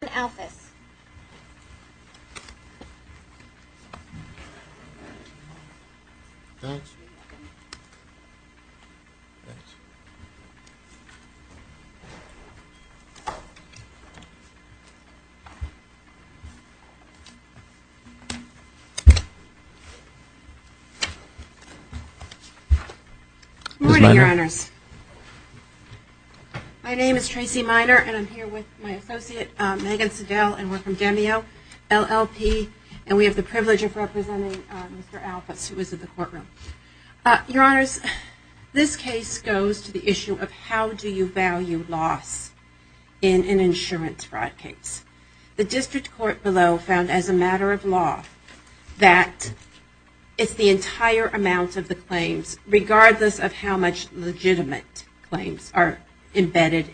Good morning your honors, my name is Tracy Minor and I'm here with my associate Megan Siddell and we're from DEMEO LLP and we have the privilege of representing Mr. Alphas who is in the courtroom. Your honors, this case goes to the issue of how do you value loss in an insurance fraud case. The district court below found as a matter of law that it's the entire amount of the claims regardless of how much legitimate claims are declared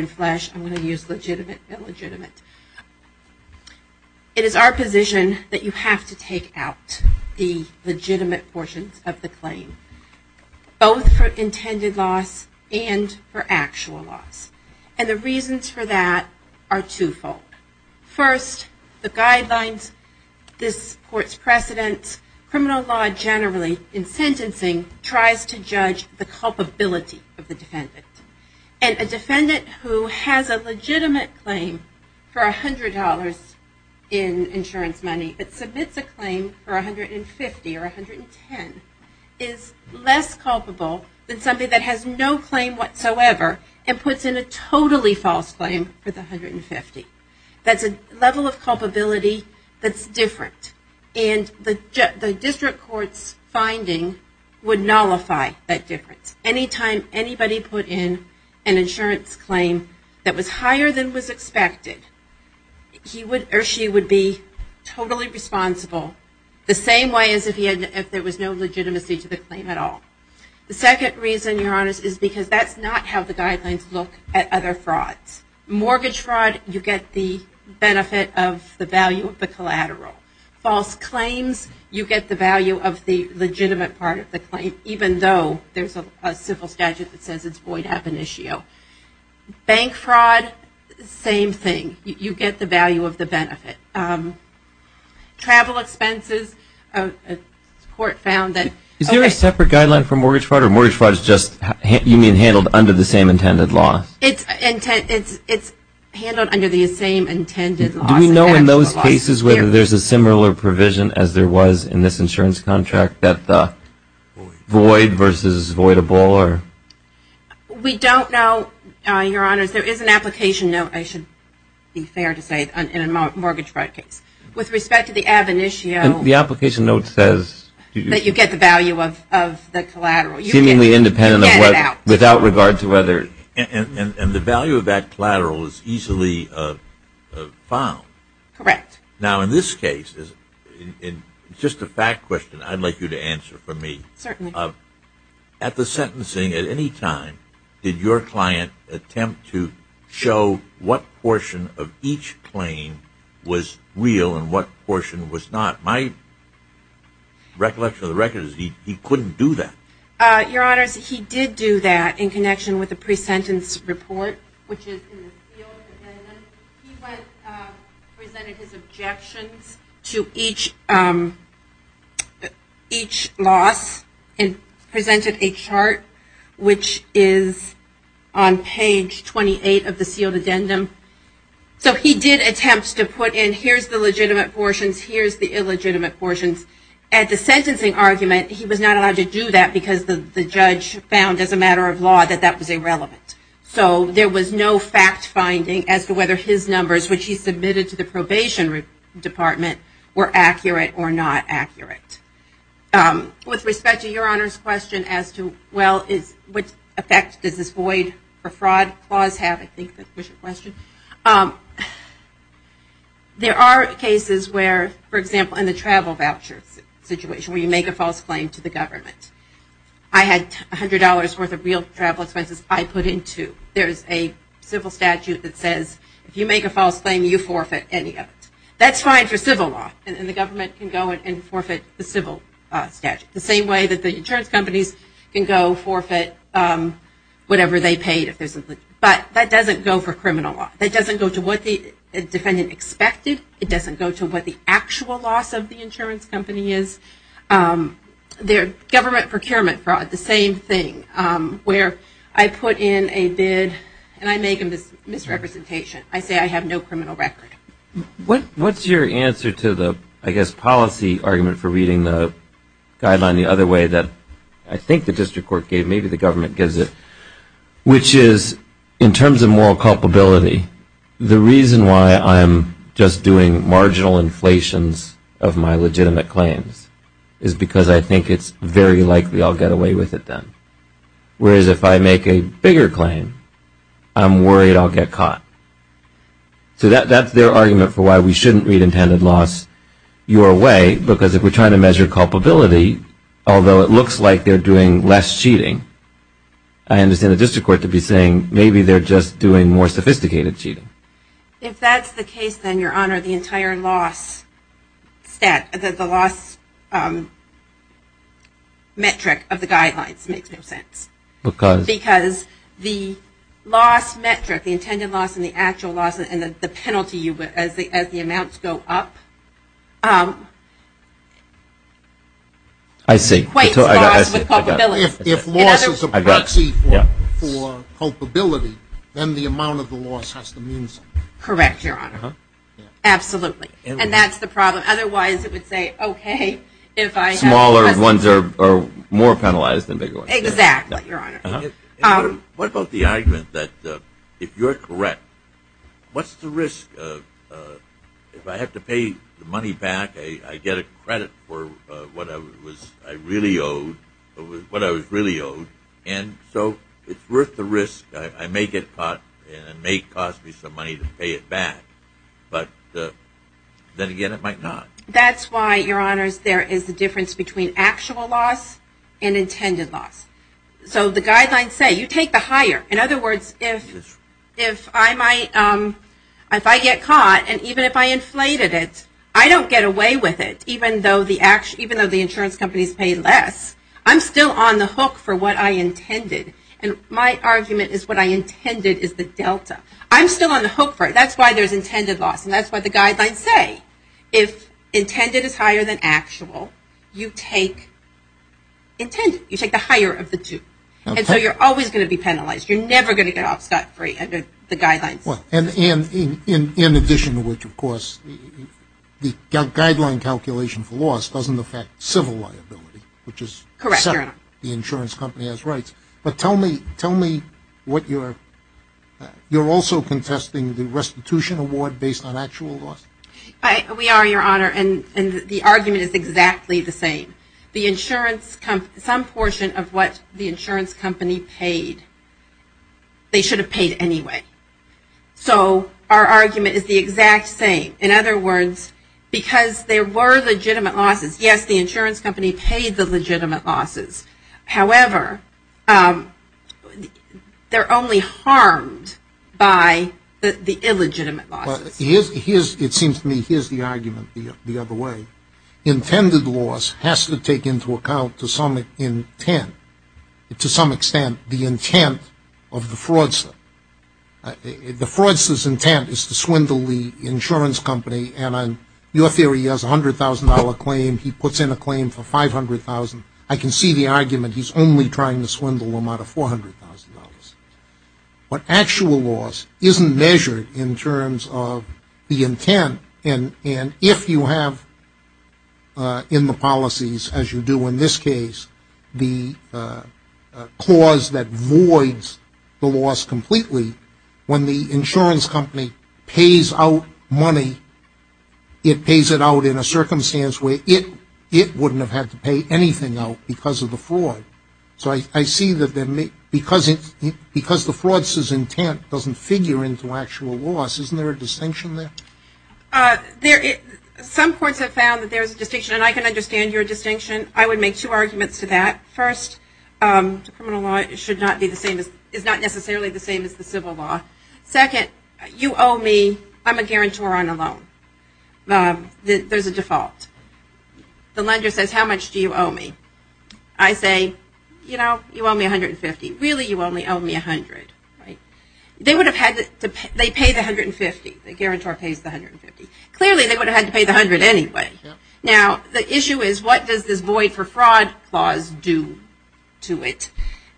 in flesh. I'm going to use legitimate and illegitimate. It is our position that you have to take out the legitimate portions of the claim. Both for intended loss and for actual loss. And the reasons for that are two-fold. First, the guidelines, this court's precedence, criminal law generally in sentencing tries to judge the culpability of the defendant. And a defendant who has a legitimate claim for $100 in insurance money but submits a claim for $150 or $110 is less culpable than somebody that has no claim whatsoever and puts in a totally false claim for the $150. That's a level of culpability that's different. And the district court's finding would nullify that difference. Anytime anybody put in an insurance claim that was higher than was expected, he would or she would be totally responsible the same way as if there was no legitimacy to the claim at all. The second reason, your honors, is because that's not how the guidelines look at other frauds. Mortgage fraud, you get the value of the collateral. False claims, you get the value of the legitimate part of the claim, even though there's a civil statute that says it's void ab initio. Bank fraud, same thing. You get the value of the benefit. Travel expenses, the court found that... Is there a separate guideline for mortgage fraud or mortgage fraud is just, you mean intended loss? Do we know in those cases whether there's a similar provision as there was in this insurance contract that the void versus voidable? We don't know, your honors. There is an application note, I should be fair to say, in a mortgage fraud case. With respect to the ab initio... The application note says... That you get the value of the collateral. Seemingly independent of what, without regard to whether... And the value of that collateral is easily found. Correct. Now in this case, just a fact question I'd like you to answer for me. Certainly. At the sentencing at any time, did your client attempt to show what portion of each claim was real and what portion was not? My recollection of the record is he couldn't do that. Your honors, he did do that in connection with the pre-sentence report, which is in the sealed addendum. He presented his objections to each loss and presented a chart, which is on page 28 of the sealed addendum. So he did attempt to put in, here's the legitimate portions, here's the illegitimate portions. At the sentencing argument, he was not allowed to do that because the judge found as a matter of law that that was irrelevant. So there was no fact finding as to whether his numbers, which he submitted to the probation department, were accurate or not accurate. With respect to your honors question as to well, what effect does this void or fraud clause have? There are cases where, for example, in the travel voucher situation where you make a false claim to the government. I had $100 worth of real travel expenses I put into. There's a civil statute that says if you make a false claim, you forfeit any of it. That's fine for civil law and the government can go and forfeit the civil statute. The same way that the insurance companies can go forfeit whatever they paid. But that doesn't go for criminal law. It doesn't go to what the defendant expected. It doesn't go to what the actual loss of the insurance company is. Government procurement fraud, the same thing, where I put in a bid and I make a misrepresentation. I say I have no criminal record. What's your answer to the, I guess, policy argument for reading the guideline the other way that I think the district court gave, maybe the government gives it, which is in terms of moral culpability, the reason why I'm just doing marginal inflations of my legitimate claims is because I think it's very likely I'll get away with it then. Whereas if I make a bigger claim, I'm worried I'll get caught. So that's their argument for why we shouldn't read intended loss your way, because if we're trying to measure culpability, although it looks like they're doing less cheating, I understand the district court to be saying maybe they're just doing more sophisticated cheating. If that's the case, then your honor, the entire loss metric of the guidelines makes no sense. Because the loss metric, the intended loss and the actual loss and the penalty as the amounts go up, equates loss with culpability. If loss is a proxy for culpability, then the amount of the loss has to mean something. Correct, your honor. Absolutely. And that's the problem. Otherwise it would say, okay, if I have... Smaller ones are more penalized than bigger ones. Exactly, your honor. What about the argument that if you're correct, what's the risk? If I have to pay the money back, I get a credit for what I was really owed, and so it's worth the risk. I may get caught and it may cost me some money to pay it back. But then again, it might not. That's why, your honors, there is a difference between actual loss and intended loss. So the guidelines say, you take the higher. In other words, if I get caught, and even if I inflated it, I don't get away with it, even though the insurance companies pay less. I'm still on the hook for what I intended. And my argument is what I intended is the delta. I'm still on the hook for it. That's why there's intended loss. And that's what the guidelines say. If intended is higher than actual, you take intended. You take the higher of the two. And so you're always going to be penalized. You're never going to get off scot-free under the guidelines. In addition to which, of course, the guideline calculation for loss doesn't affect civil liability, which is separate. The insurance company has rights. But tell me, you're also contesting the restitution award based on actual loss? We are, your honor. And the argument is exactly the same. Some portion of what the insurance company paid, they should have paid anyway. So our argument is the exact same. In other words, because there were legitimate losses, yes, the insurance company paid the legitimate losses. It seems to me here's the argument the other way. Intended loss has to take into account to some extent the intent of the fraudster. The fraudster's intent is to swindle the insurance company. And your theory is a $100,000 claim. He puts in a claim for $500,000. I can see the argument he's only trying to swindle them out of $400,000. But actual loss isn't measured in terms of the intent. And if you have in the policies, as you do in this case, the clause that voids the loss completely, when the insurance company pays out money, it pays it out in a circumstance where it wouldn't have had to pay anything out because of the fraud. So I see that because the fraudster's intent doesn't figure into actual loss, isn't there a distinction there? Some courts have found that there's a distinction, and I can understand your distinction. I would make two arguments to that. First, criminal law is not necessarily the same as the civil law. Second, you owe me, I'm a guarantor on a loan. There's a default. The lender says how much do you owe me? I say, you owe me $150,000. Really, you only owe me $100,000. They pay the $150,000. The guarantor pays the $150,000. Clearly, they would have had to pay the $100,000 anyway. Now, the issue is what does this void for fraud clause do to it?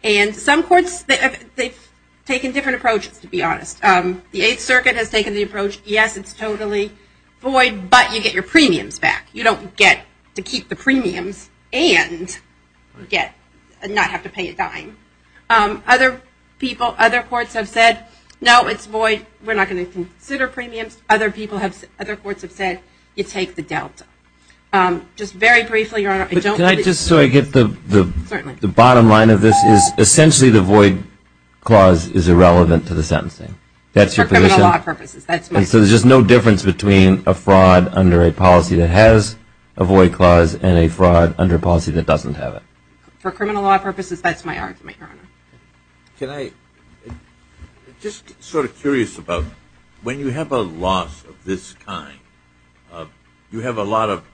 And some courts, they've taken different approaches, to be honest. The Eighth Circuit has taken the approach, yes, it's totally void, but you get your premiums back. You don't get to keep the premiums and not have to pay a dime. Other people, other courts have said, no, it's void. We're not going to consider premiums. Other courts have said, you take the delta. Just very briefly, Your Honor, I don't think it's void. Can I just, so I get the bottom line of this, is essentially the void clause is irrelevant to the sentencing. That's your position? For criminal law purposes, that's my position. So there's just no difference between a fraud under a policy that has a void clause and a fraud under a policy that doesn't have it? For criminal law purposes, that's my argument, Your Honor. Just sort of curious about, when you have a loss of this kind, you have a lot of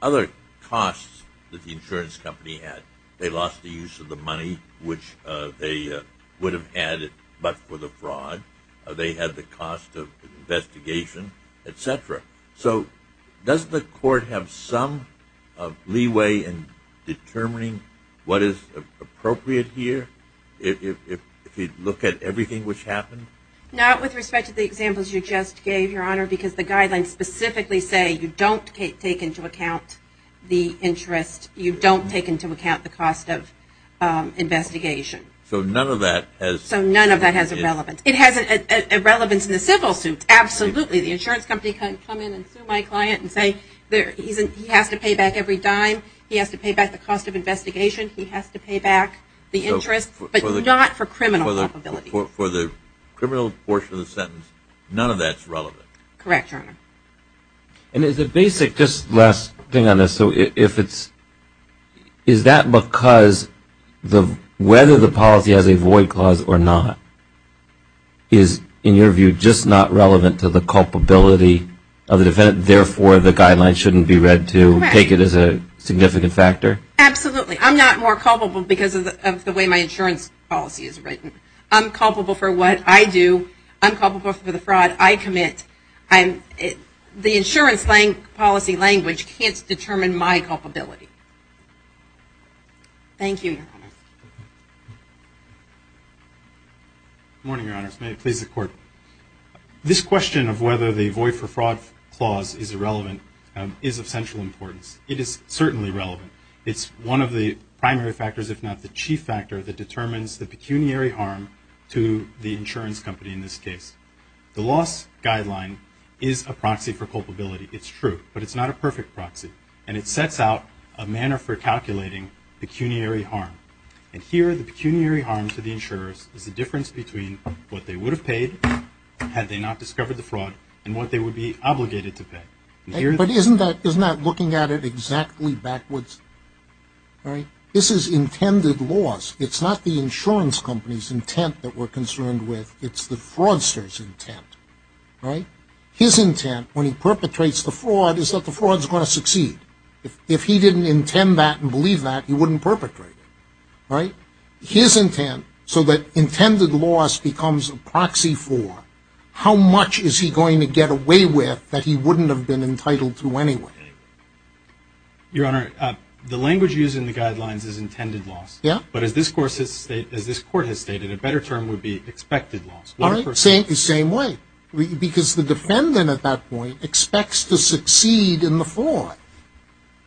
other costs that the insurance company had. They lost the use of the money, which they would have had but for the fraud. They had the cost of investigation, et cetera. So does the court have some leeway in determining what is appropriate here, if you look at everything which happened? Not with respect to the examples you just gave, Your Honor, because the guidelines specifically say you don't take into account the interest. You don't take into account the cost of investigation. So none of that has... So none of that has a relevance. It has a relevance in the civil suit, absolutely. The insurance company can come in and sue my client and say he has to pay back every dime, he has to pay back the cost of investigation, he has to pay back the interest, but not for criminal liability. For the criminal portion of the sentence, none of that's relevant? Correct, Your Honor. And as a basic, just last thing on this, so if it's, is that because whether the person has a void clause or not is, in your view, just not relevant to the culpability of the defendant, therefore the guidelines shouldn't be read to take it as a significant factor? Absolutely. I'm not more culpable because of the way my insurance policy is written. I'm culpable for what I do. I'm culpable for the fraud I commit. The insurance policy language can't determine my culpability. Thank you, Your Honor. Good morning, Your Honor. May it please the Court. This question of whether the void for fraud clause is relevant is of central importance. It is certainly relevant. It's one of the primary factors, if not the chief factor, that determines the pecuniary harm to the insurance company in this case. The loss guideline is a proxy for culpability. It's true. But it's not a perfect proxy. And it sets out a manner for calculating pecuniary harm. And here the pecuniary harm to the insurers is the difference between what they would have paid had they not discovered the fraud and what they would be obligated to pay. But isn't that, isn't that looking at it exactly backwards? This is intended loss. It's not the insurance company's intent that we're concerned with. It's the fraudster's intent. Right? His intent, when he perpetrates the fraud, is that the fraud's going to succeed. If he didn't intend that and believe that, he wouldn't perpetrate it. Right? His intent, so that intended loss becomes a proxy for, how much is he going to get away with that he wouldn't have been entitled to anyway? Your Honor, the language used in the guidelines is intended loss. Yeah. But as this Court has stated, a better term would be expected loss. All right. Same, same way. Because the defendant at that point expects to succeed in the fraud.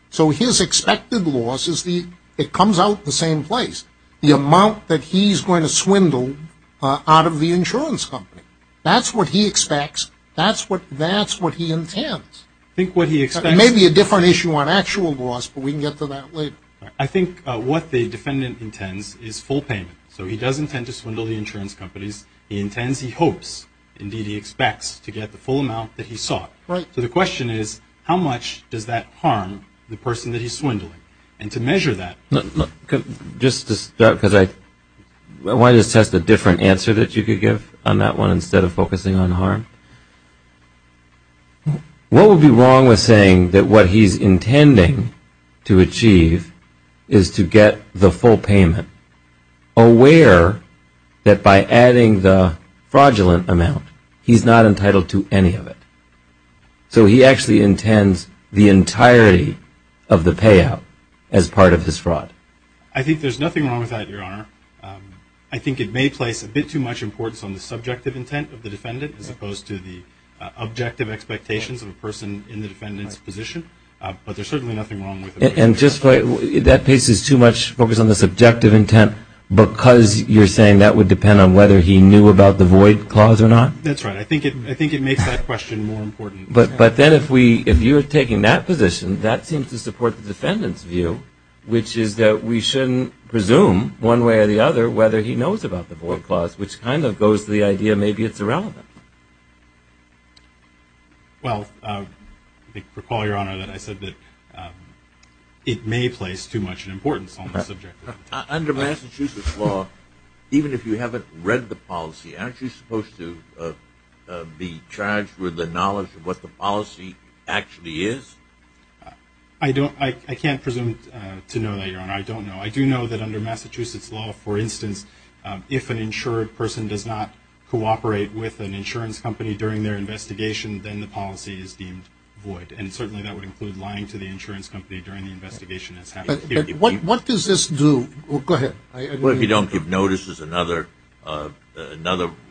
So his expected loss is the, it comes out the same place. The amount that he's going to swindle out of the insurance company. That's what he expects. That's what, that's what he intends. I think what he expects It may be a different issue on actual loss, but we can get to that later. I think what the defendant intends is full payment. So he does intend to swindle the funds he hopes, indeed he expects, to get the full amount that he sought. Right. So the question is, how much does that harm the person that he's swindling? And to measure that Just to start, because I, why don't I just test a different answer that you could give on that one instead of focusing on harm? What would be wrong with saying that what he's He's not entitled to any of it. So he actually intends the entirety of the payout as part of his fraud. I think there's nothing wrong with that, Your Honor. I think it may place a bit too much importance on the subjective intent of the defendant as opposed to the objective expectations of a person in the defendant's position. But there's certainly nothing wrong with it. And just, that places too much focus on the subjective intent because you're saying that would depend on whether he knew about the void clause or not? That's right. I think it makes that question more important. But then if we, if you're taking that position, that seems to support the defendant's view, which is that we shouldn't presume, one way or the other, whether he knows about the void clause, which kind of goes to the idea maybe it's irrelevant. Well, I think, recall, Your Honor, that I said that it may place too much importance on the subjective intent. Under Massachusetts law, even if you haven't read the policy, aren't you supposed to be charged with the knowledge of what the policy actually is? I don't, I can't presume to know that, Your Honor. I don't know. I do know that under Massachusetts law, for instance, if an insured person does not cooperate with an insurance company during their investigation, then the policy is deemed void. And certainly that would include lying to the insurance company during the investigation as having a theory of fraud. What does this do? Go ahead. Well, if you don't give notice is another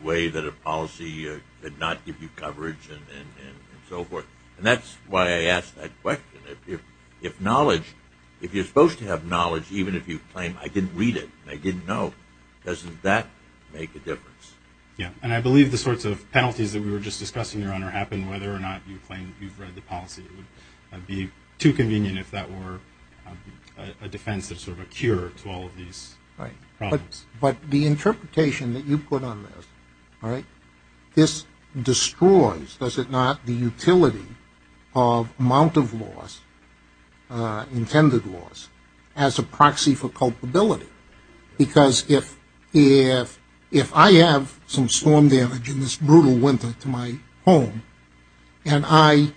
way that a policy could not give you coverage and so forth. And that's why I asked that question. If knowledge, if you're supposed to have knowledge, even if you claim, I didn't read it, I didn't know, doesn't that make a difference? Yeah. And I believe the sorts of penalties that we were just discussing, Your Honor, happen whether or not you claim that you've read the policy. It would be too convenient if that were a defense that's sort of a cure to all of these problems. But the interpretation that you put on this, all right, this destroys, does it not, the utility of amount of loss, intended loss, as a proxy for culpability. Because if I have some storm damage in this brutal winter to my home, and I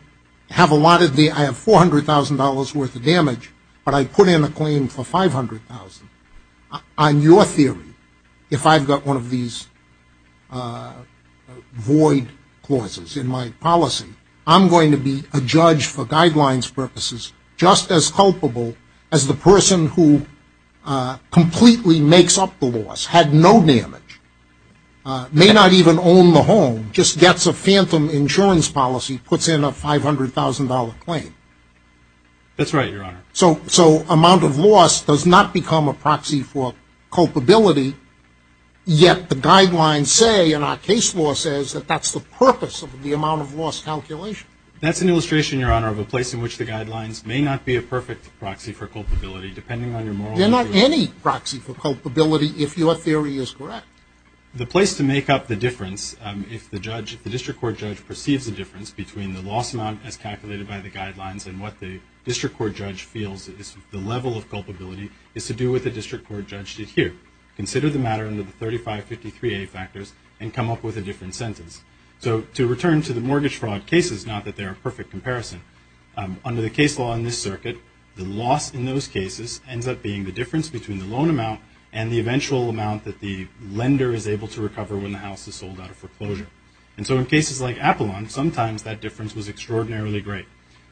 have a lot of the, I have $400,000 worth of damage, but I put in a claim for $500,000, on your theory, if I've got one of these void clauses in my policy, I'm going to be a judge for guidelines purposes, just as culpable as the person who completely makes up the loss, had no damage, may not even own the home, just gets a phantom insurance policy, puts in a $500,000 claim. That's right, Your Honor. So amount of loss does not become a proxy for culpability, yet the guidelines say, and our case law says, that that's the purpose of the amount of loss calculation. That's an illustration, Your Honor, of a place in which the guidelines may not be a perfect proxy for culpability, depending on your moral interest. They're not any proxy for culpability, if your theory is correct. The place to make up the difference, if the judge, if the district court judge perceives a difference between the loss amount as calculated by the guidelines and what the district court judge feels is the level of culpability, is to do with the district court judge to hear. Consider the matter under the 3553A factors and come up with a different sentence. So to return to the mortgage fraud cases, not that they're a perfect comparison, under the case law in this circuit, the loss in those cases ends up being the difference between the loan amount and the eventual amount that the lender is able to recover when the house is sold out of foreclosure. And so in cases like Apollon, sometimes that difference was extraordinarily great.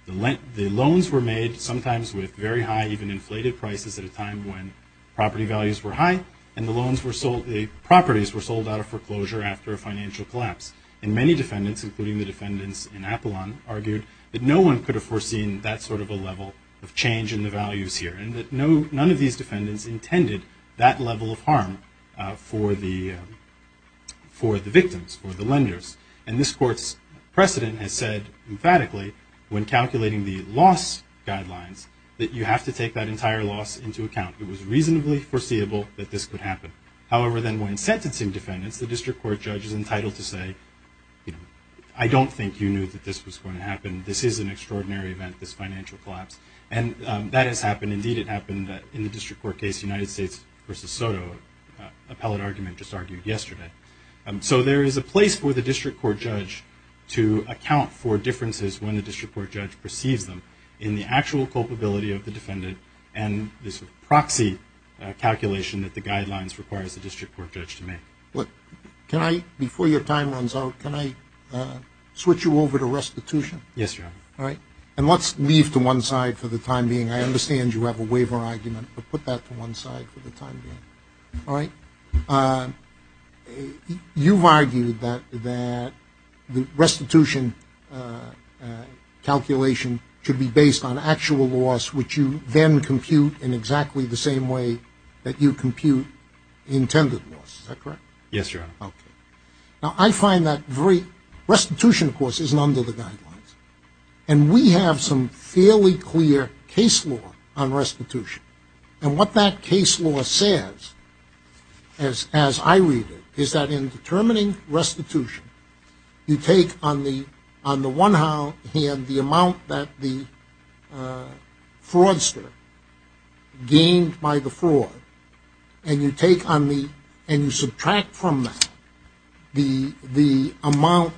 The loans were made sometimes with very high, even inflated prices at a time when property values were high, and the properties were sold out of foreclosure after a financial collapse. And many defendants, including the defendants in Apollon, argued that no one could have foreseen that sort of a level of change in the values here, and that none of these defendants intended that level of harm for the victims, for the lenders. And this court's precedent has said emphatically, when calculating the loss guidelines, that you have to take that entire loss into account. It was reasonably foreseeable that this could happen. However, then when sentencing defendants, the district court judge is entitled to say, I don't think you knew that this was going to happen. This is an extraordinary event, this financial collapse. And that has happened. Indeed, it happened in the district court case, United States versus Soto. Appellate argument just argued yesterday. So there is a place for the district court judge to account for differences when the district court judge perceives them in the actual culpability of the defendant, and this proxy calculation that the guidelines requires the district court judge to make. Look, can I, before your time runs out, can I switch you over to restitution? Yes, Your Honor. All right. And let's leave to one side for the time being. I understand you have a waiver argument, but put that to one side for the time being. All right. You've argued that the restitution calculation should be based on actual loss, which you then compute in exactly the same way that you compute intended loss, is that correct? Yes, Your Honor. Okay. Now, I find that restitution, of course, isn't under the guidelines. And we have some fairly clear case law on restitution. And what that case law says, as I read it, is that in determining restitution, you take on the one hand the amount that the fraudster gained by the fraud, and you take on the, and you subtract from that the amount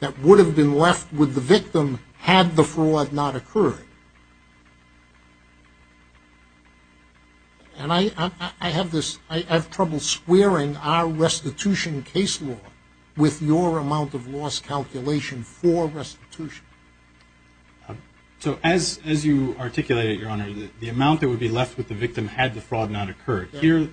that would have been left with the victim had the fraud not occurred. And I have this, I have trouble squaring our restitution case law with your amount of loss calculation for restitution. So as you articulated, Your Honor, the amount that would be left with the victim had the fraud not occurred. Here,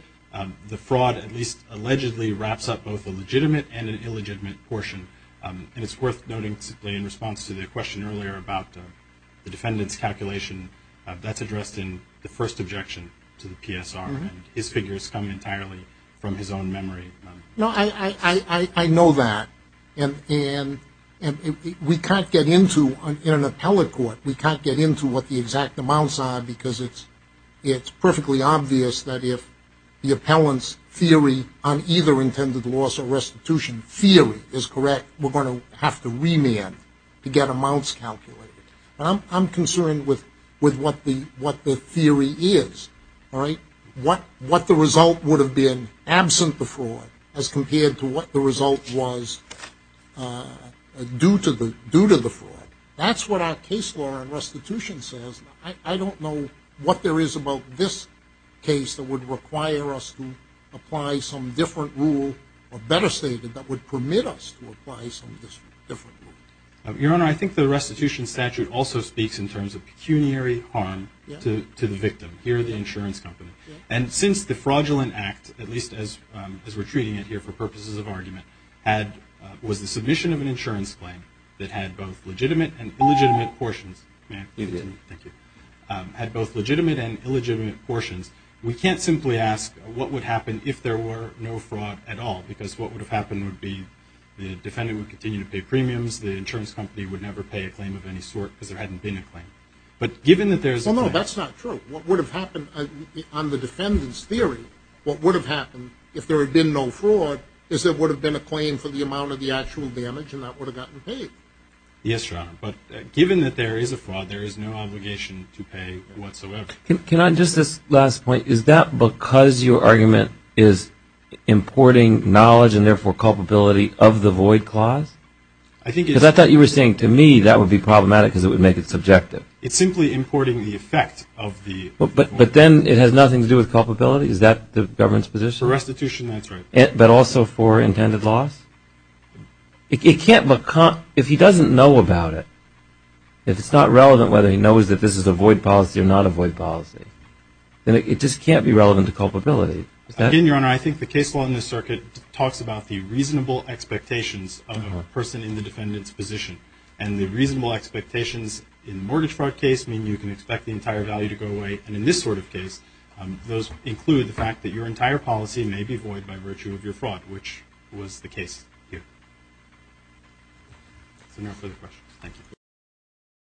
the fraud at least allegedly wraps up both a legitimate and an illegitimate portion. And it's worth noting, in response to the question earlier about the defendant's calculation, that's addressed in the first objection to the PSR. His figures come entirely from his own memory. No, I know that. And we can't get into, in an appellate court, we can't get into what the exact amounts are because it's perfectly obvious that if the appellant's theory on either intended loss or restitution theory is correct, we're going to have to remand to get amounts calculated. I'm concerned with what the theory is, all right? What the result would have been absent the fraud as compared to what the result was due to the fraud. That's what our case law on restitution says. I don't know what there is about this case that would require us to apply some different rule, or better say, that would permit us to apply some different rule. Your Honor, I think the restitution statute also speaks in terms of pecuniary harm to the victim. Here, the insurance company. And since the fraudulent act, at least as we're treating it here for purposes of argument, was the submission of an insurance claim that had both legitimate and illegitimate portions. May I continue? You may. Thank you. Had both legitimate and illegitimate portions. We can't simply ask what would happen if there were no fraud at all because what would have happened would be the defendant would continue to pay premiums, the insurance company would never pay a claim of any sort because there hadn't been a claim. But given that there's... Well, no, that's not true. What would have happened on the defendant's theory, what would have happened if there had been no fraud is there would have been a claim for the amount of the actual damage and that would have gotten paid. Yes, Your Honor. But given that there is a fraud, there is no obligation to pay whatsoever. Can I just... This last point. Is that because your argument is importing knowledge and therefore culpability of the void clause? I think it's... Because I thought you were saying to me that would be problematic because it would make it subjective. It's simply importing the effect of the void clause. But then it has nothing to do with culpability? Is that the government's position? For restitution, that's right. But also for intended loss? It can't... If he doesn't know about it, if it's not relevant whether he knows that this is a void policy or not a void policy, then it just can't be relevant to culpability. Again, Your Honor, I think the case law in this circuit talks about the reasonable expectations of a person in the defendant's position. And the reasonable expectations in mortgage fraud case mean you can expect the entire value to go away. And in this sort of case, those include the fact that your entire policy may be void by this case here. So no further questions.